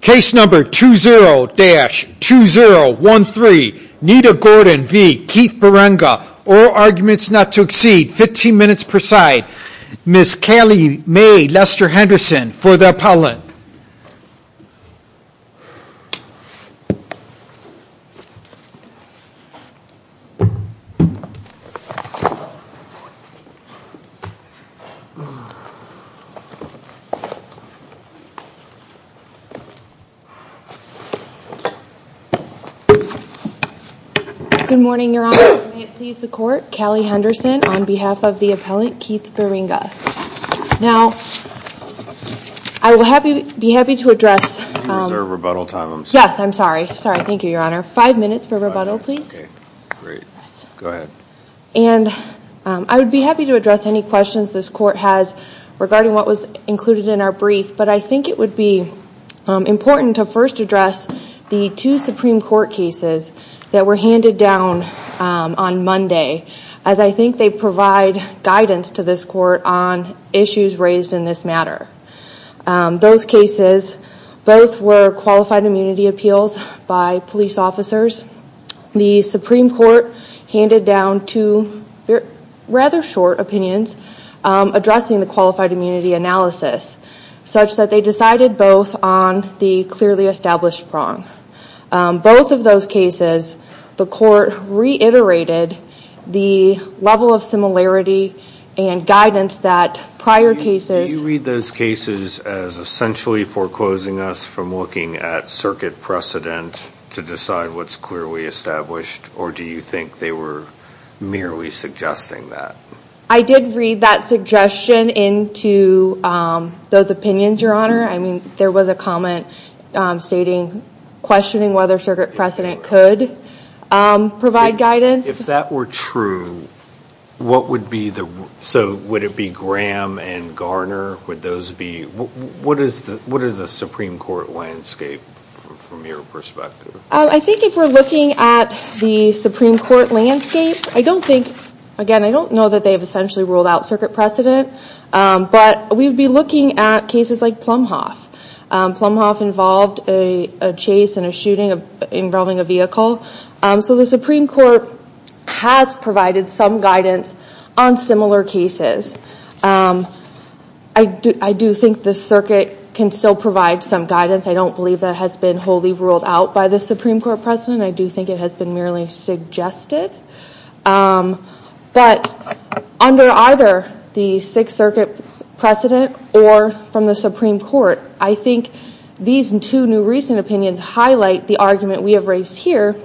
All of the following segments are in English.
Case number 20-2013, Nita Gordon v. Keith Bierenga. All arguments not to exceed 15 minutes per side. Ms. Callie Mae Lester Henderson for the appellant. Good morning, Your Honor. May it please the Court, Callie Henderson on behalf of the appellant Keith Bierenga. Now, I would be happy to address... You reserve rebuttal time, I'm sorry. Yes, I'm sorry. Sorry. Thank you, Your Honor. Five minutes for rebuttal, please. Great. Go ahead. And I would be happy to address any questions this Court has regarding what was included in our brief, but I think it would be important to first address the two Supreme Court cases that were handed down on Monday as I think they provide guidance to this Court on issues raised in this matter. Those cases both were qualified immunity appeals by police officers. The Supreme Court handed down two rather short opinions addressing the qualified immunity analysis such that they decided both on the clearly established prong. Both of those cases, the Court reiterated the level of similarity and guidance that prior cases... or do you think they were merely suggesting that? I did read that suggestion into those opinions, Your Honor. I mean, there was a comment stating... questioning whether circuit precedent could provide guidance. If that were true, what would be the... So, would it be Graham and Garner? Would those be... What is the Supreme Court landscape from your perspective? I think if we're looking at the Supreme Court landscape, I don't think... Again, I don't know that they have essentially ruled out circuit precedent, but we would be looking at cases like Plumhoff. Plumhoff involved a chase and a shooting involving a vehicle. So the Supreme Court has provided some guidance on similar cases. I do think the circuit can still provide some guidance. I don't believe that has been wholly ruled out by the Supreme Court precedent. I do think it has been merely suggested. But under either the Sixth Circuit precedent or from the Supreme Court, I think these two new recent opinions highlight the argument we have raised here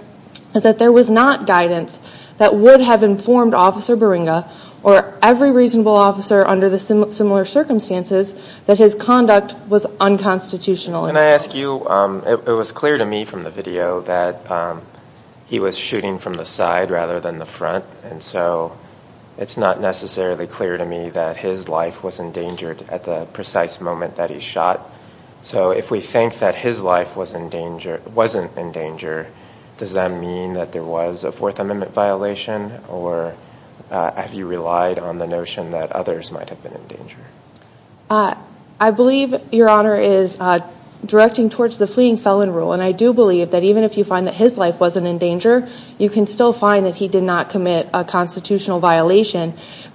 is that there was not guidance that would have informed Officer Barringa or every reasonable officer under the similar circumstances that his conduct was unconstitutional. Can I ask you... It was clear to me from the video that he was shooting from the side rather than the front, and so it's not necessarily clear to me that his life was endangered at the precise moment that he shot. So if we think that his life wasn't in danger, does that mean that there was a Fourth Amendment violation, or have you relied on the notion that others might have been in danger? I believe, Your Honor, is directing towards the fleeing felon rule, and I do believe that even if you find that his life wasn't in danger, you can still find that he did not commit a constitutional violation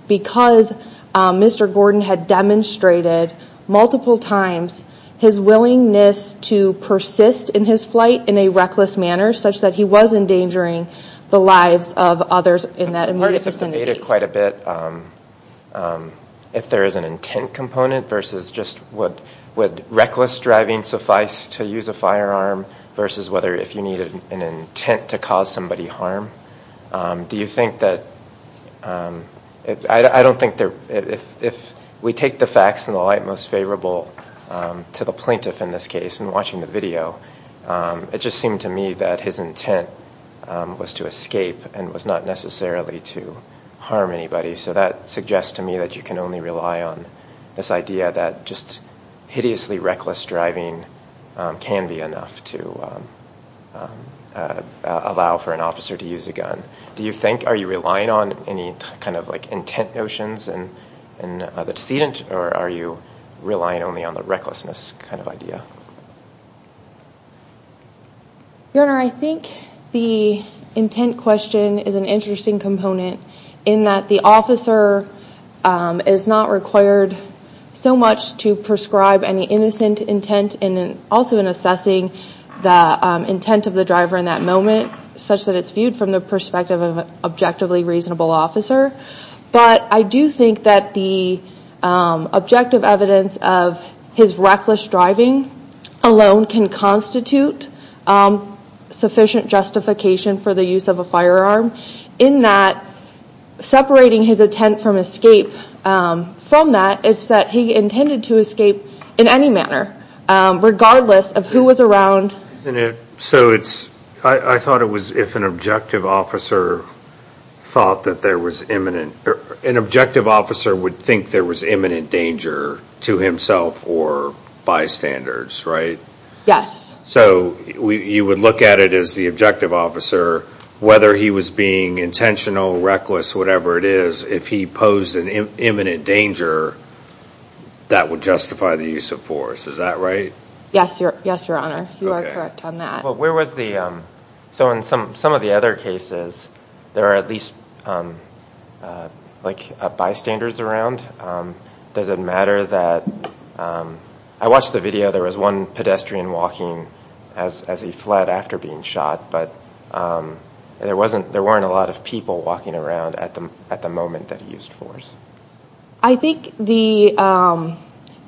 because Mr. Gordon had demonstrated multiple times his willingness to persist in his flight in a reckless manner such that he was endangering the lives of others in that immediate vicinity. You've debated quite a bit if there is an intent component versus just would reckless driving suffice to use a firearm versus whether if you needed an intent to cause somebody harm. Do you think that... I don't think there... If we take the facts in the light most favorable to the plaintiff in this case in watching the video, it just seemed to me that his intent was to escape and was not necessarily to harm anybody. So that suggests to me that you can only rely on this idea that just hideously reckless driving can be enough to allow for an officer to use a gun. Do you think... Are you relying on any kind of intent notions in the decedent, or are you relying only on the recklessness kind of idea? Your Honor, I think the intent question is an interesting component in that the officer is not required so much to prescribe any innocent intent and also in assessing the intent of the driver in that moment such that it's viewed from the perspective of an objectively reasonable officer. But I do think that the objective evidence of his reckless driving alone can constitute sufficient justification for the use of a firearm in that separating his intent from escape from that is that he intended to escape in any manner regardless of who was around. So I thought it was if an objective officer thought that there was imminent... An objective officer would think there was imminent danger to himself or bystanders, right? Yes. So you would look at it as the objective officer, whether he was being intentional, reckless, whatever it is, if he posed an imminent danger, that would justify the use of force. Is that right? Yes, Your Honor. You are correct on that. Okay. But where was the... So in some of the other cases, there are at least bystanders around. Does it matter that... I watched the video. There was one pedestrian walking as he fled after being shot, but there weren't a lot of people walking around at the moment that he used force. I think the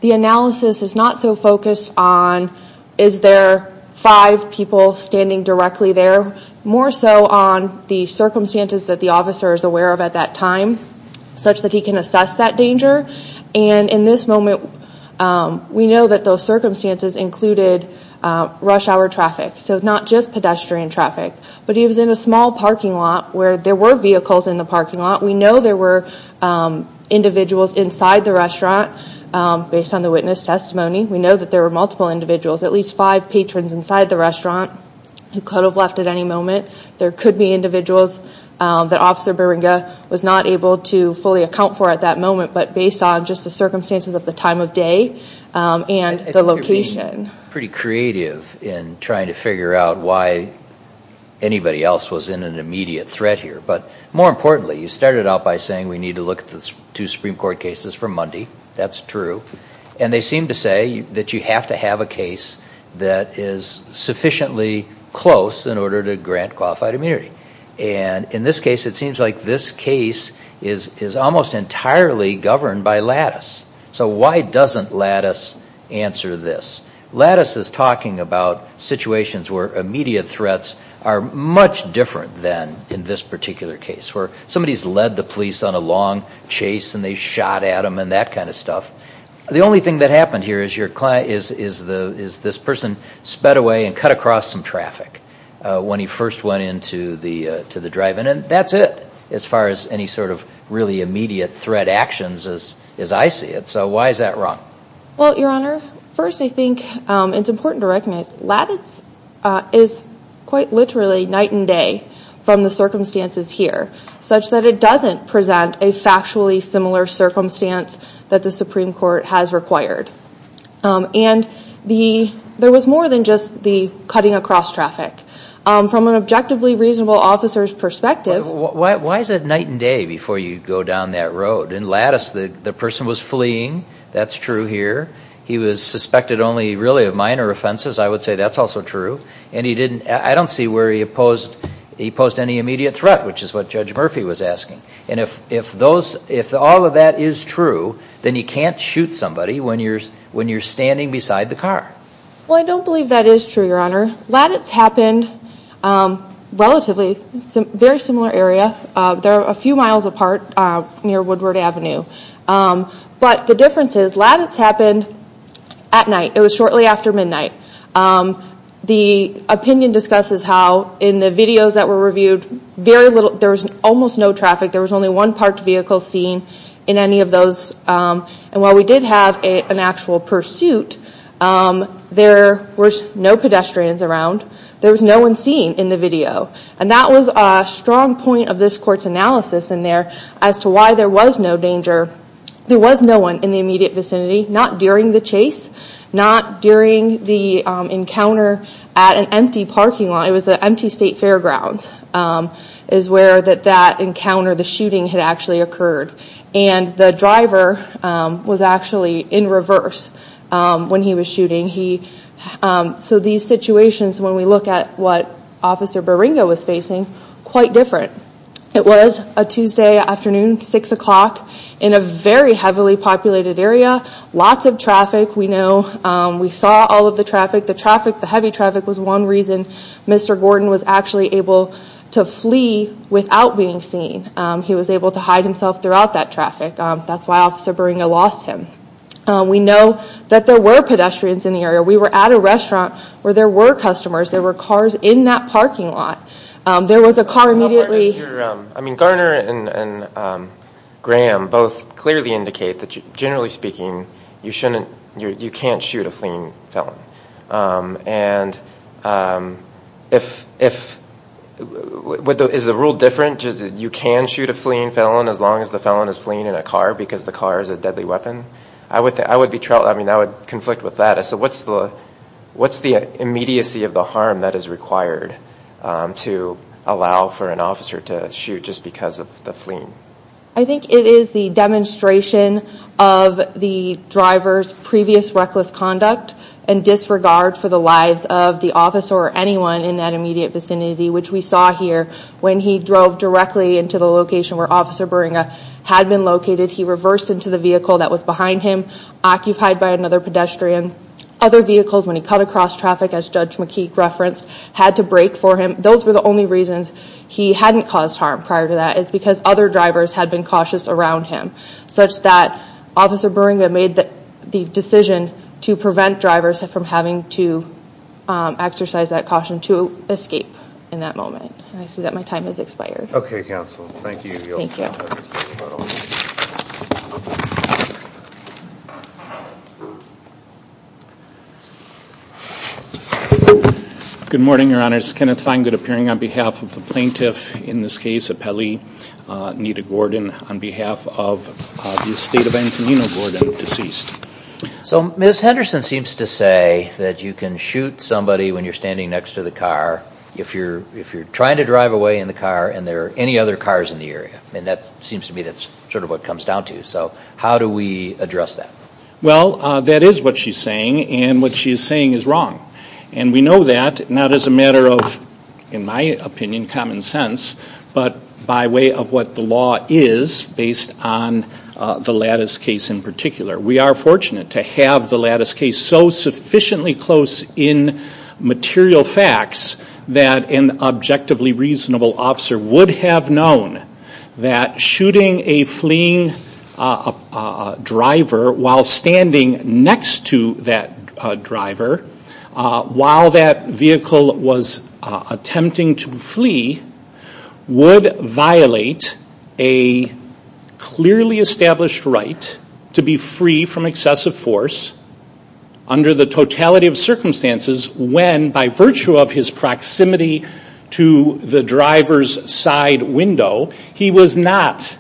analysis is not so focused on is there five people standing directly there, more so on the circumstances that the officer is aware of at that time such that he can assess that danger. And in this moment, we know that those circumstances included rush hour traffic, so not just pedestrian traffic. But he was in a small parking lot where there were vehicles in the parking lot. We know there were individuals inside the restaurant based on the witness testimony. We know that there were multiple individuals, at least five patrons inside the restaurant who could have left at any moment. There could be individuals that Officer Barringa was not able to fully account for at that moment, but based on just the circumstances at the time of day and the location. I think you're being pretty creative in trying to figure out why anybody else was in an immediate threat here. But more importantly, you started out by saying we need to look at the two Supreme Court cases for Monday. That's true. And they seem to say that you have to have a case that is sufficiently close in order to grant qualified immunity. And in this case, it seems like this case is almost entirely governed by Lattice. So why doesn't Lattice answer this? Lattice is talking about situations where immediate threats are much different than in this particular case, where somebody has led the police on a long chase and they shot at them and that kind of stuff. The only thing that happened here is this person sped away and cut across some traffic when he first went into the drive-in. And that's it as far as any sort of really immediate threat actions as I see it. So why is that wrong? Well, Your Honor, first I think it's important to recognize Lattice is quite literally night and day from the circumstances here, such that it doesn't present a factually similar circumstance that the Supreme Court has required. And there was more than just the cutting across traffic. From an objectively reasonable officer's perspective- Why is it night and day before you go down that road? In Lattice, the person was fleeing. That's true here. He was suspected only really of minor offenses. I would say that's also true. And I don't see where he posed any immediate threat, which is what Judge Murphy was asking. And if all of that is true, then you can't shoot somebody when you're standing beside the car. Well, I don't believe that is true, Your Honor. Lattice happened relatively in a very similar area. They're a few miles apart near Woodward Avenue. But the difference is Lattice happened at night. It was shortly after midnight. The opinion discusses how in the videos that were reviewed, there was almost no traffic. There was only one parked vehicle seen in any of those. And while we did have an actual pursuit, there were no pedestrians around. There was no one seen in the video. And that was a strong point of this court's analysis in there as to why there was no danger. There was no one in the immediate vicinity, not during the chase, not during the encounter at an empty parking lot. It was an empty state fairground is where that encounter, the shooting, had actually occurred. And the driver was actually in reverse when he was shooting. So these situations, when we look at what Officer Baringa was facing, quite different. It was a Tuesday afternoon, 6 o'clock, in a very heavily populated area. Lots of traffic, we know. We saw all of the traffic. The traffic, the heavy traffic, was one reason Mr. Gordon was actually able to flee without being seen. He was able to hide himself throughout that traffic. That's why Officer Baringa lost him. We know that there were pedestrians in the area. We were at a restaurant where there were customers. There were cars in that parking lot. There was a car immediately. I mean, Garner and Graham both clearly indicate that, generally speaking, you can't shoot a fleeing felon. And is the rule different? You can shoot a fleeing felon as long as the felon is fleeing in a car because the car is a deadly weapon? I would be troubled. I mean, I would conflict with that. So what's the immediacy of the harm that is required to allow for an officer to shoot just because of the fleeing? I think it is the demonstration of the driver's previous reckless conduct and disregard for the lives of the officer or anyone in that immediate vicinity, which we saw here when he drove directly into the location where Officer Baringa had been located. He reversed into the vehicle that was behind him, occupied by another pedestrian. Other vehicles, when he cut across traffic, as Judge McKeek referenced, had to brake for him. Those were the only reasons he hadn't caused harm prior to that is because other drivers had been cautious around him, such that Officer Baringa made the decision to prevent drivers from having to exercise that caution to escape in that moment. And I see that my time has expired. Okay, Counsel. Thank you. Thank you. Good morning, Your Honors. Kenneth Feingold appearing on behalf of the plaintiff, in this case a Pelley, Nita Gordon, on behalf of the estate of Antonino Gordon, deceased. So Ms. Henderson seems to say that you can shoot somebody when you're standing next to the car if you're trying to drive away in the car and there are any other cars in the area. And that seems to me that's sort of what it comes down to. So how do we address that? Well, that is what she's saying, and what she's saying is wrong. And we know that, not as a matter of, in my opinion, common sense, but by way of what the law is based on the lattice case in particular. We are fortunate to have the lattice case so sufficiently close in material facts that an objectively reasonable officer would have known that shooting a fleeing driver while standing next to that driver while that vehicle was attempting to flee would violate a clearly established right to be free from excessive force under the totality of circumstances when, by virtue of his proximity to the driver's side window, he was not,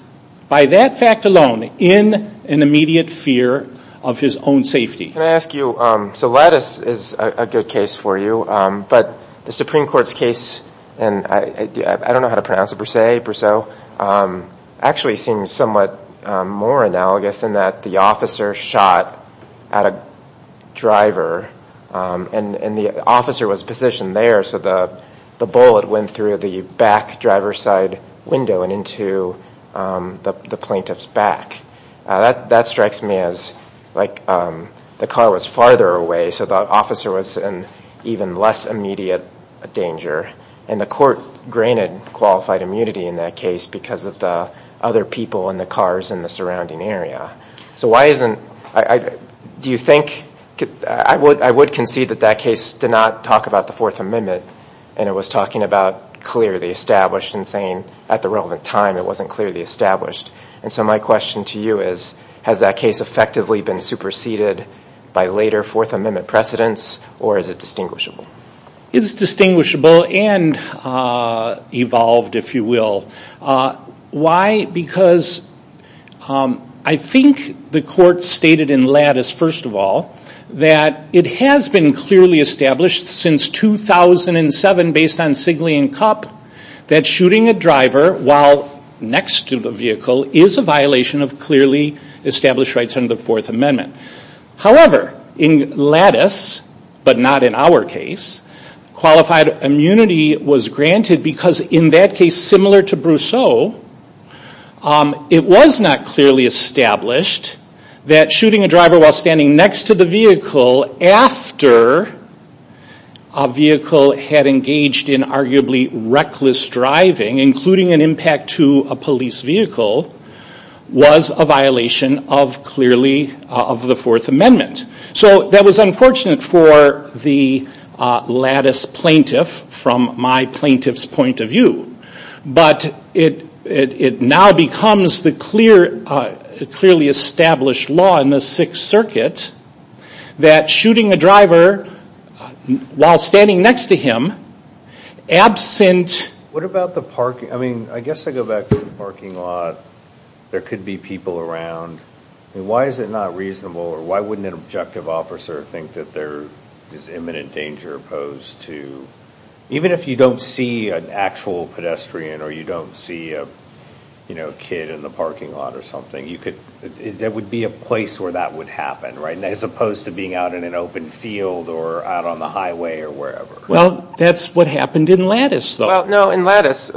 by that fact alone, in an immediate fear of his own safety. Can I ask you, so lattice is a good case for you, but the Supreme Court's case, and I don't know how to pronounce it, Brosseau, actually seems somewhat more analogous in that the officer shot at a driver and the officer was positioned there so the bullet went through the back driver's side window and into the plaintiff's back. That strikes me as like the car was farther away so the officer was in even less immediate danger and the court granted qualified immunity in that case because of the other people and the cars in the surrounding area. So why isn't, do you think, I would concede that that case did not talk about the Fourth Amendment and it was talking about clearly established and saying at the relevant time it wasn't clearly established. And so my question to you is, has that case effectively been superseded by later Fourth Amendment precedents or is it distinguishable? It's distinguishable and evolved, if you will. Why? Because I think the court stated in lattice, first of all, that it has been clearly established since 2007 based on Sigley and Cup that shooting a driver while next to the vehicle is a violation of clearly established rights under the Fourth Amendment. However, in lattice, but not in our case, qualified immunity was granted because in that case, similar to Brosseau, it was not clearly established that shooting a driver while standing next to the vehicle after a vehicle had engaged in arguably reckless driving, including an impact to a police vehicle, was a violation of clearly, of the Fourth Amendment. So that was unfortunate for the lattice plaintiff from my plaintiff's point of view. But it now becomes the clearly established law in the Sixth Circuit that shooting a driver while standing next to him, absent... What about the parking? I mean, I guess I go back to the parking lot. There could be people around. Why is it not reasonable or why wouldn't an objective officer think that there is imminent danger posed to... If you're a pedestrian or you don't see a kid in the parking lot or something, there would be a place where that would happen, right? As opposed to being out in an open field or out on the highway or wherever. Well, that's what happened in lattice, though. Well, no, in lattice...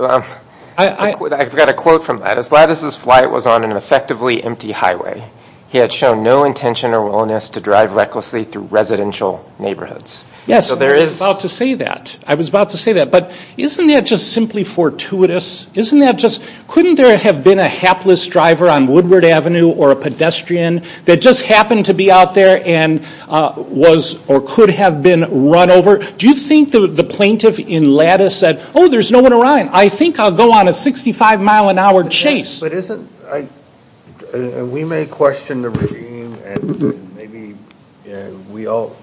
I've got a quote from lattice. Lattice's flight was on an effectively empty highway. He had shown no intention or willingness to drive recklessly through residential neighborhoods. Yes, I was about to say that. I was about to say that. But isn't that just simply fortuitous? Isn't that just... Couldn't there have been a hapless driver on Woodward Avenue or a pedestrian that just happened to be out there and was or could have been run over? Do you think the plaintiff in lattice said, oh, there's no one around. I think I'll go on a 65-mile-an-hour chase. But isn't... We may question the regime and maybe we all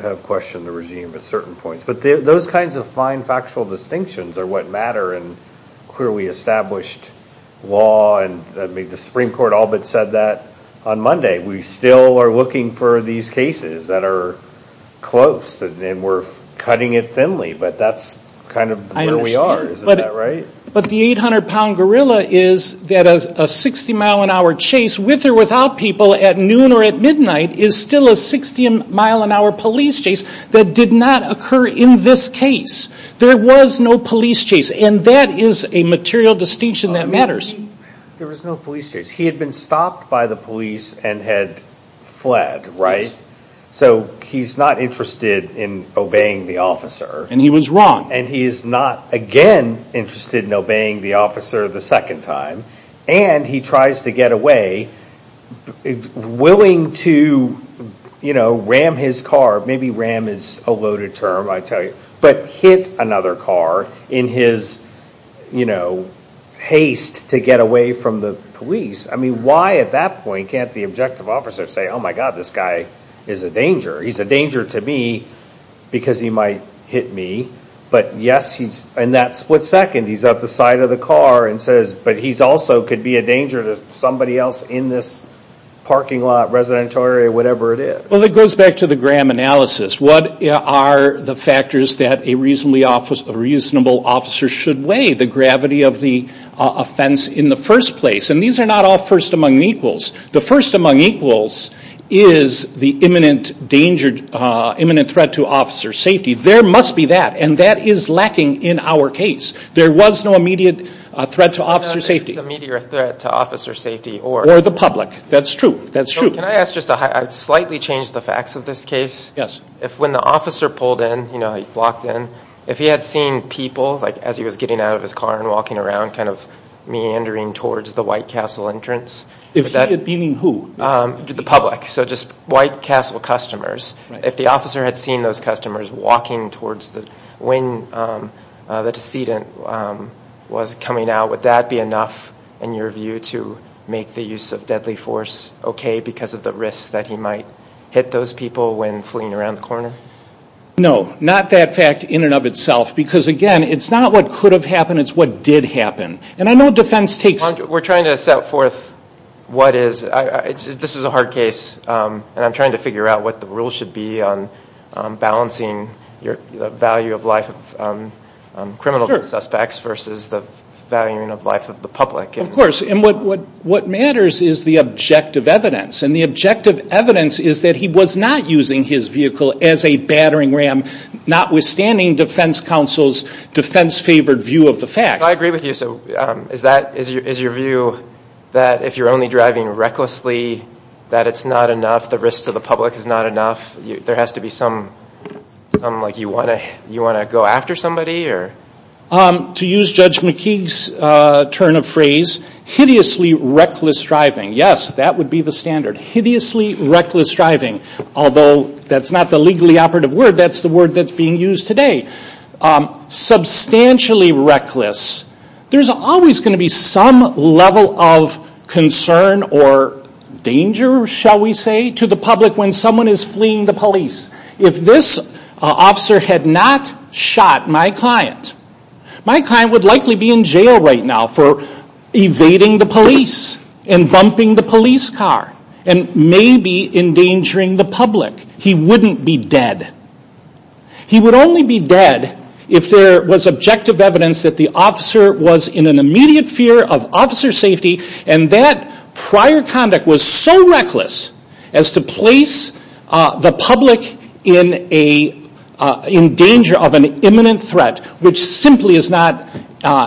have questioned the regime at certain points. But those kinds of fine factual distinctions are what matter in clearly established law. The Supreme Court all but said that on Monday. We still are looking for these cases that are close, and we're cutting it thinly. But that's kind of where we are. Isn't that right? But the 800-pound gorilla is that a 60-mile-an-hour chase with or without people at noon or at midnight is still a 60-mile-an-hour police chase that did not occur in this case. There was no police chase. And that is a material distinction that matters. There was no police chase. He had been stopped by the police and had fled, right? Yes. So he's not interested in obeying the officer. And he was wrong. And he is not again interested in obeying the officer the second time. And he tries to get away, willing to ram his car. Maybe ram is a loaded term, I tell you. But hit another car in his haste to get away from the police. I mean, why at that point can't the objective officer say, Oh, my God, this guy is a danger. He's a danger to me because he might hit me. But yes, in that split second, he's at the side of the car and says, But he also could be a danger to somebody else in this parking lot, residential area, whatever it is. Well, it goes back to the Graham analysis. What are the factors that a reasonable officer should weigh? The gravity of the offense in the first place. And these are not all first among equals. The first among equals is the imminent threat to officer safety. There must be that. And that is lacking in our case. There was no immediate threat to officer safety. No, there was no immediate threat to officer safety or the public. That's true. That's true. Can I ask just a high – I'd slightly change the facts of this case. Yes. If when the officer pulled in, you know, he walked in, if he had seen people, like as he was getting out of his car and walking around, kind of meandering towards the White Castle entrance. Meaning who? The public. So just White Castle customers. If the officer had seen those customers walking towards the – when the decedent was coming out, would that be enough in your view to make the use of deadly force okay because of the risk that he might hit those people when fleeing around the corner? No. Not that fact in and of itself. Because, again, it's not what could have happened. It's what did happen. And I know defense takes – We're trying to set forth what is – this is a hard case. And I'm trying to figure out what the rules should be on balancing the value of life of criminal suspects versus the value of life of the public. Of course. And what matters is the objective evidence. And the objective evidence is that he was not using his vehicle as a battering ram, notwithstanding defense counsel's defense-favored view of the facts. I agree with you. So is that – is your view that if you're only driving recklessly, that it's not enough? The risk to the public is not enough? There has to be some – like you want to go after somebody? To use Judge McKeague's turn of phrase, hideously reckless driving. Yes, that would be the standard. Hideously reckless driving. Although that's not the legally operative word. That's the word that's being used today. Substantially reckless. There's always going to be some level of concern or danger, shall we say, to the public when someone is fleeing the police. If this officer had not shot my client, my client would likely be in jail right now for evading the police and bumping the police car and maybe endangering the public. He wouldn't be dead. He would only be dead if there was objective evidence that the officer was in an immediate fear of officer safety and that prior conduct was so reckless as to place the public in danger of an imminent threat, which simply is not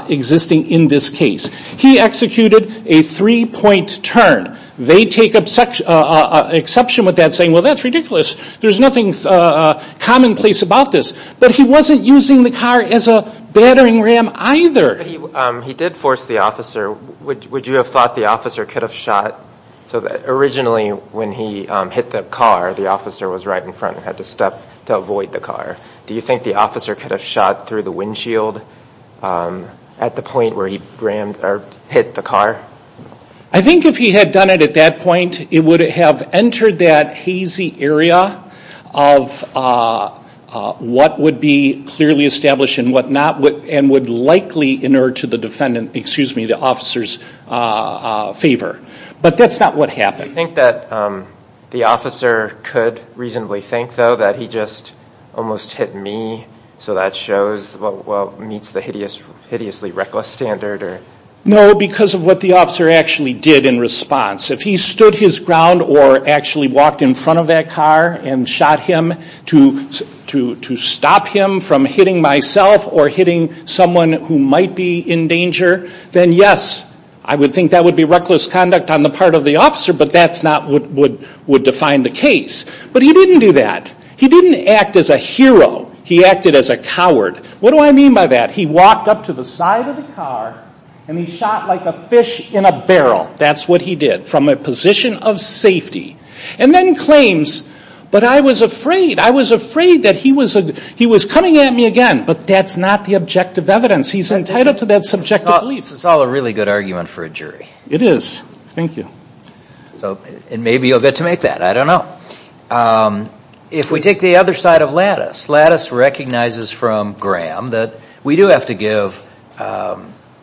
existing in this case. He executed a three-point turn. They take exception with that, saying, well, that's ridiculous. There's nothing commonplace about this. But he wasn't using the car as a battering ram either. He did force the officer. Would you have thought the officer could have shot? Originally, when he hit the car, the officer was right in front and had to step to avoid the car. Do you think the officer could have shot through the windshield at the point where he hit the car? I think if he had done it at that point, it would have entered that hazy area of what would be clearly established and would likely inert to the defendant, excuse me, the officer's favor. But that's not what happened. Do you think that the officer could reasonably think, though, that he just almost hit me, so that shows what meets the hideously reckless standard? No, because of what the officer actually did in response. If he stood his ground or actually walked in front of that car and shot him to stop him from hitting myself or hitting someone who might be in danger, then yes, I would think that would be reckless conduct on the part of the officer, but that's not what would define the case. But he didn't do that. He didn't act as a hero. He acted as a coward. What do I mean by that? He walked up to the side of the car and he shot like a fish in a barrel. That's what he did from a position of safety. And then claims, but I was afraid. I was afraid that he was coming at me again. But that's not the objective evidence. He's entitled to that subjective belief. It's all a really good argument for a jury. It is. Thank you. And maybe you'll get to make that. I don't know. If we take the other side of Lattice, Lattice recognizes from Graham that we do have to give,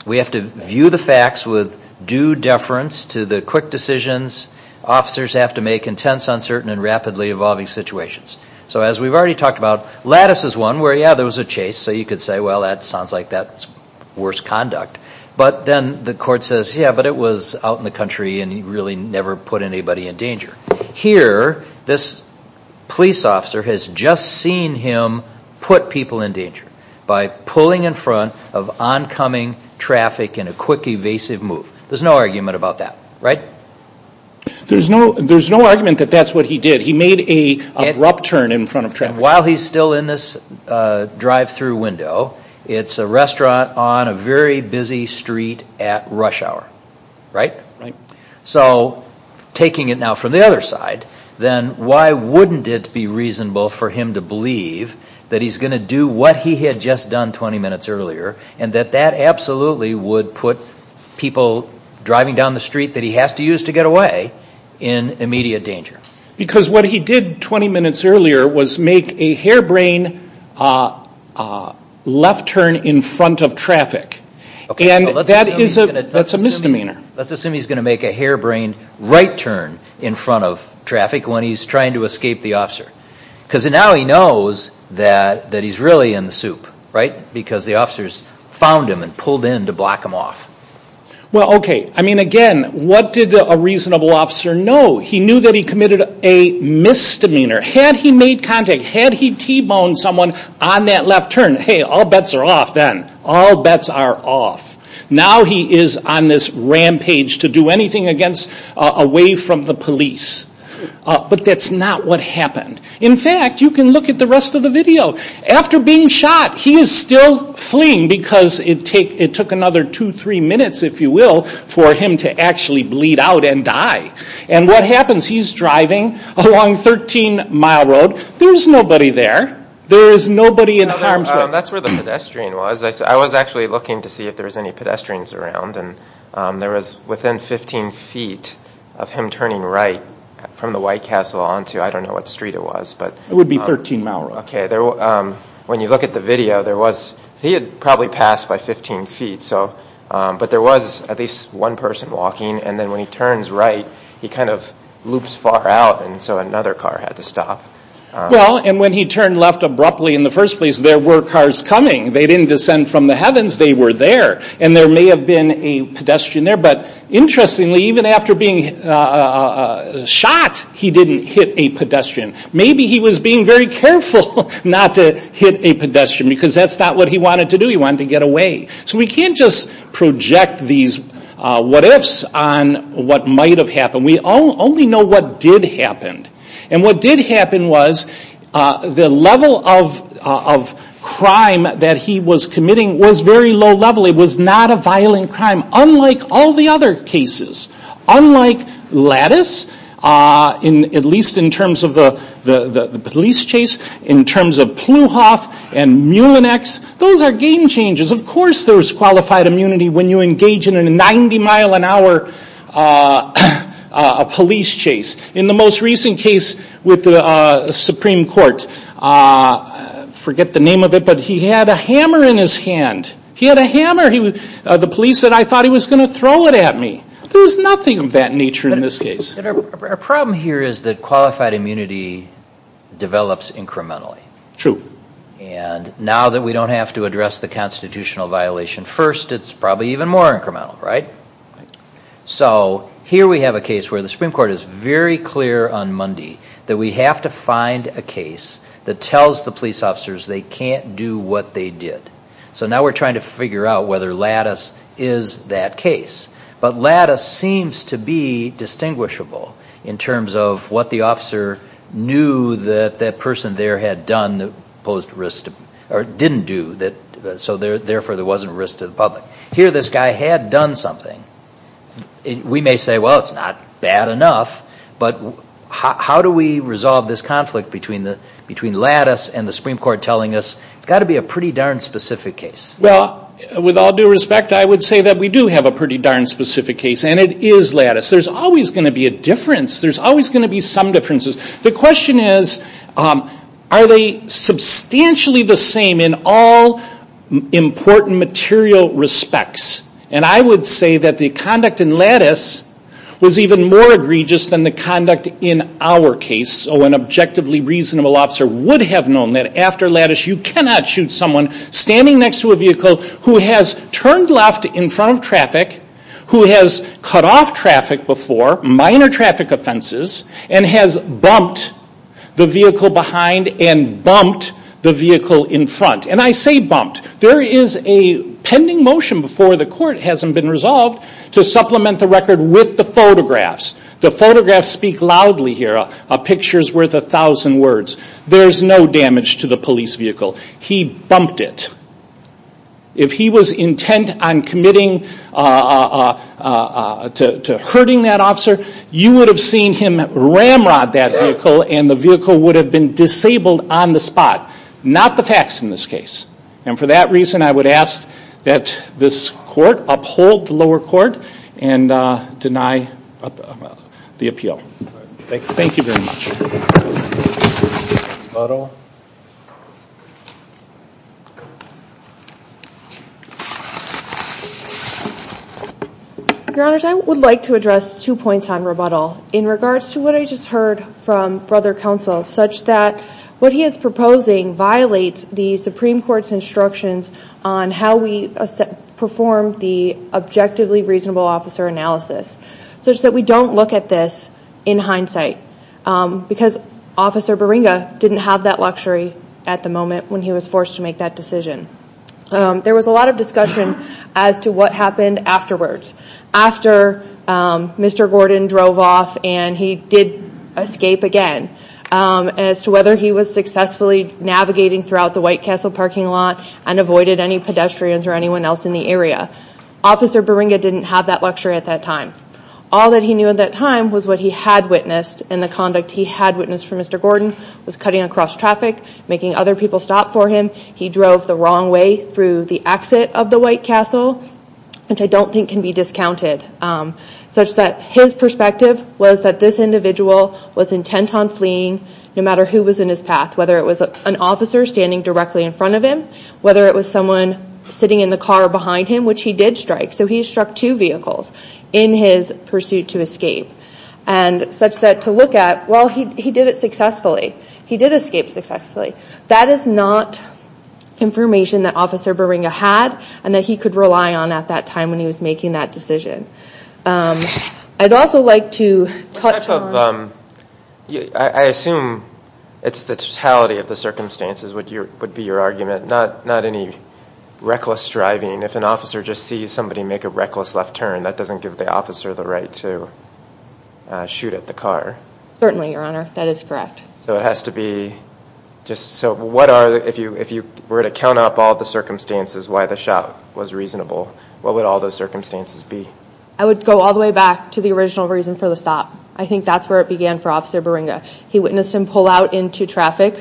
we have to view the facts with due deference to the quick decisions officers have to make in tense, uncertain, and rapidly evolving situations. So as we've already talked about, Lattice is one where, yeah, there was a chase, so you could say, well, that sounds like that's worse conduct. But then the court says, yeah, but it was out in the country and he really never put anybody in danger. Here, this police officer has just seen him put people in danger by pulling in front of oncoming traffic in a quick, evasive move. There's no argument about that, right? There's no argument that that's what he did. He made an abrupt turn in front of traffic. And while he's still in this drive-through window, it's a restaurant on a very busy street at rush hour, right? Right. So taking it now from the other side, then why wouldn't it be reasonable for him to believe that he's going to do what he had just done 20 minutes earlier and that that absolutely would put people driving down the street that he has to use to get away in immediate danger? Because what he did 20 minutes earlier was make a harebrained left turn in front of traffic. And that's a misdemeanor. Let's assume he's going to make a harebrained right turn in front of traffic when he's trying to escape the officer. Because now he knows that he's really in the soup, right? Because the officers found him and pulled in to block him off. Well, okay. I mean, again, what did a reasonable officer know? He knew that he committed a misdemeanor. Had he made contact, had he T-boned someone on that left turn, hey, all bets are off then. All bets are off. Now he is on this rampage to do anything away from the police. But that's not what happened. In fact, you can look at the rest of the video. After being shot, he is still fleeing because it took another two, three minutes, if you will, for him to actually bleed out and die. And what happens? He's driving along 13 Mile Road. There's nobody there. There is nobody in harm's way. That's where the pedestrian was. I was actually looking to see if there was any pedestrians around, and there was within 15 feet of him turning right from the White Castle on to, I don't know what street it was. It would be 13 Mile Road. Okay. When you look at the video, he had probably passed by 15 feet. But there was at least one person walking. And then when he turns right, he kind of loops far out, and so another car had to stop. Well, and when he turned left abruptly in the first place, there were cars coming. They didn't descend from the heavens. They were there. And there may have been a pedestrian there. But interestingly, even after being shot, he didn't hit a pedestrian. Maybe he was being very careful not to hit a pedestrian because that's not what he wanted to do. He wanted to get away. So we can't just project these what-ifs on what might have happened. We only know what did happen. And what did happen was the level of crime that he was committing was very low level. It was not a violent crime, unlike all the other cases. Unlike Lattice, at least in terms of the police chase, in terms of Plouhoff and Mullinex, those are game changers. Of course there was qualified immunity when you engage in a 90-mile-an-hour police chase. In the most recent case with the Supreme Court, forget the name of it, but he had a hammer in his hand. He had a hammer. The police said, I thought he was going to throw it at me. There was nothing of that nature in this case. Our problem here is that qualified immunity develops incrementally. True. And now that we don't have to address the constitutional violation first, it's probably even more incremental, right? So here we have a case where the Supreme Court is very clear on Monday that we have to find a case that tells the police officers they can't do what they did. So now we're trying to figure out whether Lattice is that case. But Lattice seems to be distinguishable in terms of what the officer knew that that person there had done, or didn't do, so therefore there wasn't risk to the public. Here this guy had done something. We may say, well, it's not bad enough, but how do we resolve this conflict between Lattice and the Supreme Court telling us, it's got to be a pretty darn specific case? Well, with all due respect, I would say that we do have a pretty darn specific case, and it is Lattice. There's always going to be a difference. There's always going to be some differences. The question is, are they substantially the same in all important material respects? And I would say that the conduct in Lattice was even more egregious than the conduct in our case. An objectively reasonable officer would have known that after Lattice, you cannot shoot someone standing next to a vehicle who has turned left in front of traffic, who has cut off traffic before, minor traffic offenses, and has bumped the vehicle behind and bumped the vehicle in front. And I say bumped. There is a pending motion before the court, hasn't been resolved, to supplement the record with the photographs. The photographs speak loudly here. A picture's worth a thousand words. There's no damage to the police vehicle. He bumped it. If he was intent on committing to hurting that officer, you would have seen him ramrod that vehicle, and the vehicle would have been disabled on the spot. Not the facts in this case. And for that reason, I would ask that this court uphold the lower court and deny the appeal. Thank you very much. Photo. Your Honor, I would like to address two points on rebuttal. In regards to what I just heard from Brother Counsel, such that what he is proposing violates the Supreme Court's instructions on how we perform the objectively reasonable officer analysis, such that we don't look at this in hindsight. when he was forced to make that decision. There was a lot of discussion as to what happened afterwards. After Mr. Gordon drove off and he did escape again, as to whether he was successfully navigating throughout the White Castle parking lot and avoided any pedestrians or anyone else in the area. Officer Baringa didn't have that luxury at that time. All that he knew at that time was what he had witnessed and the conduct he had witnessed for Mr. Gordon was cutting across traffic, making other people stop for him. He drove the wrong way through the exit of the White Castle, which I don't think can be discounted. Such that his perspective was that this individual was intent on fleeing, no matter who was in his path, whether it was an officer standing directly in front of him, whether it was someone sitting in the car behind him, which he did strike. So he struck two vehicles in his pursuit to escape. Such that to look at, well, he did it successfully. He did escape successfully. That is not information that Officer Baringa had and that he could rely on at that time when he was making that decision. I'd also like to touch on... I assume it's the totality of the circumstances would be your argument, not any reckless driving. If an officer just sees somebody make a reckless left turn, that doesn't give the officer the right to shoot at the car. Certainly, Your Honor. That is correct. So it has to be... If you were to count up all the circumstances why the shot was reasonable, what would all those circumstances be? I would go all the way back to the original reason for the stop. I think that's where it began for Officer Baringa. He witnessed him pull out into traffic,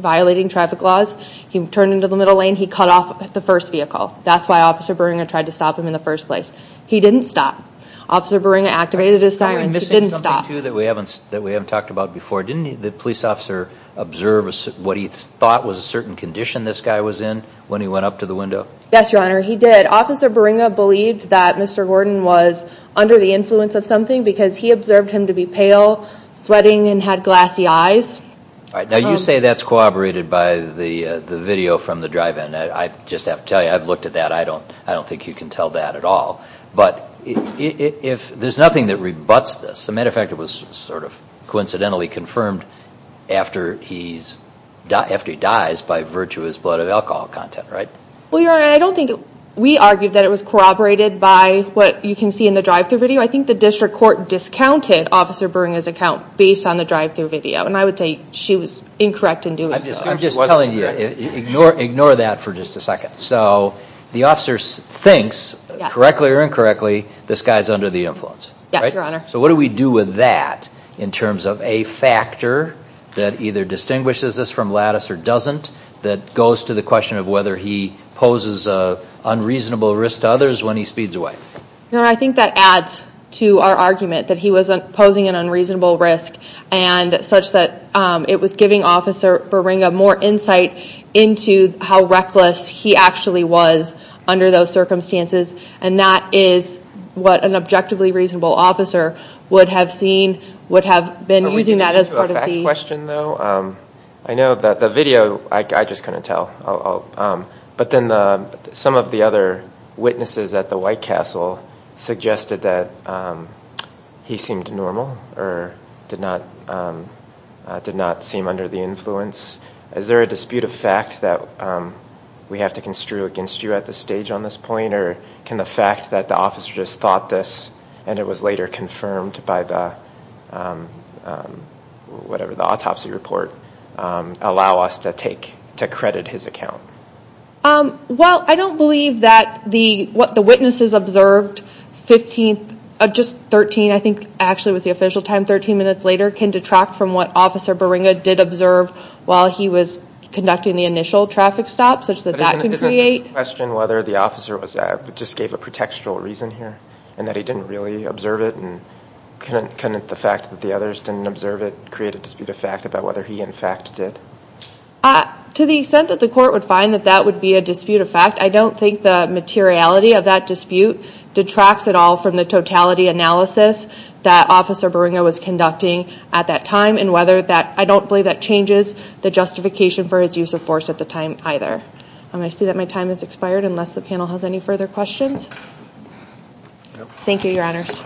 violating traffic laws. He turned into the middle lane. He cut off the first vehicle. That's why Officer Baringa tried to stop him in the first place. He didn't stop. Officer Baringa activated his sirens. He didn't stop. We're missing something, too, that we haven't talked about before. Didn't the police officer observe what he thought was a certain condition this guy was in when he went up to the window? Yes, Your Honor. He did. Officer Baringa believed that Mr. Gordon was under the influence of something because he observed him to be pale, sweating, and had glassy eyes. Now, you say that's corroborated by the video from the drive-in. I just have to tell you, I've looked at that. I don't think you can tell that at all. But there's nothing that rebuts this. As a matter of fact, it was sort of coincidentally confirmed after he dies by virtuous blood of alcohol content, right? Well, Your Honor, I don't think we argued that it was corroborated by what you can see in the drive-thru video. I think the district court discounted Officer Baringa's account based on the drive-thru video, and I would say she was incorrect in doing so. I'm just telling you, ignore that for just a second. So the officer thinks, correctly or incorrectly, this guy's under the influence, right? Yes, Your Honor. So what do we do with that in terms of a factor that either distinguishes us from Lattice or doesn't that goes to the question of whether he poses an unreasonable risk to others when he speeds away? Your Honor, I think that adds to our argument that he was posing an unreasonable risk such that it was giving Officer Baringa more insight into how reckless he actually was under those circumstances, and that is what an objectively reasonable officer would have seen, would have been using that as part of the... Are we getting into a fact question, though? I know that the video, I just couldn't tell. But then some of the other witnesses at the White Castle suggested that he seemed normal or did not seem under the influence. Is there a dispute of fact that we have to construe against you at this stage on this point, or can the fact that the officer just thought this and it was later confirmed by the autopsy report allow us to credit his account? Well, I don't believe that what the witnesses observed, just 13, I think actually was the official time, 13 minutes later, can detract from what Officer Baringa did observe while he was conducting the initial traffic stop, such that that can create... But isn't the question whether the officer just gave a pretextual reason here and that he didn't really observe it, and couldn't the fact that the others didn't observe it create a dispute of fact about whether he, in fact, did? To the extent that the court would find that that would be a dispute of fact, I don't think the materiality of that dispute detracts at all from the totality analysis that Officer Baringa was conducting at that time, and whether that... I don't believe that changes the justification for his use of force at the time either. I see that my time has expired, unless the panel has any further questions. Thank you, Your Honors.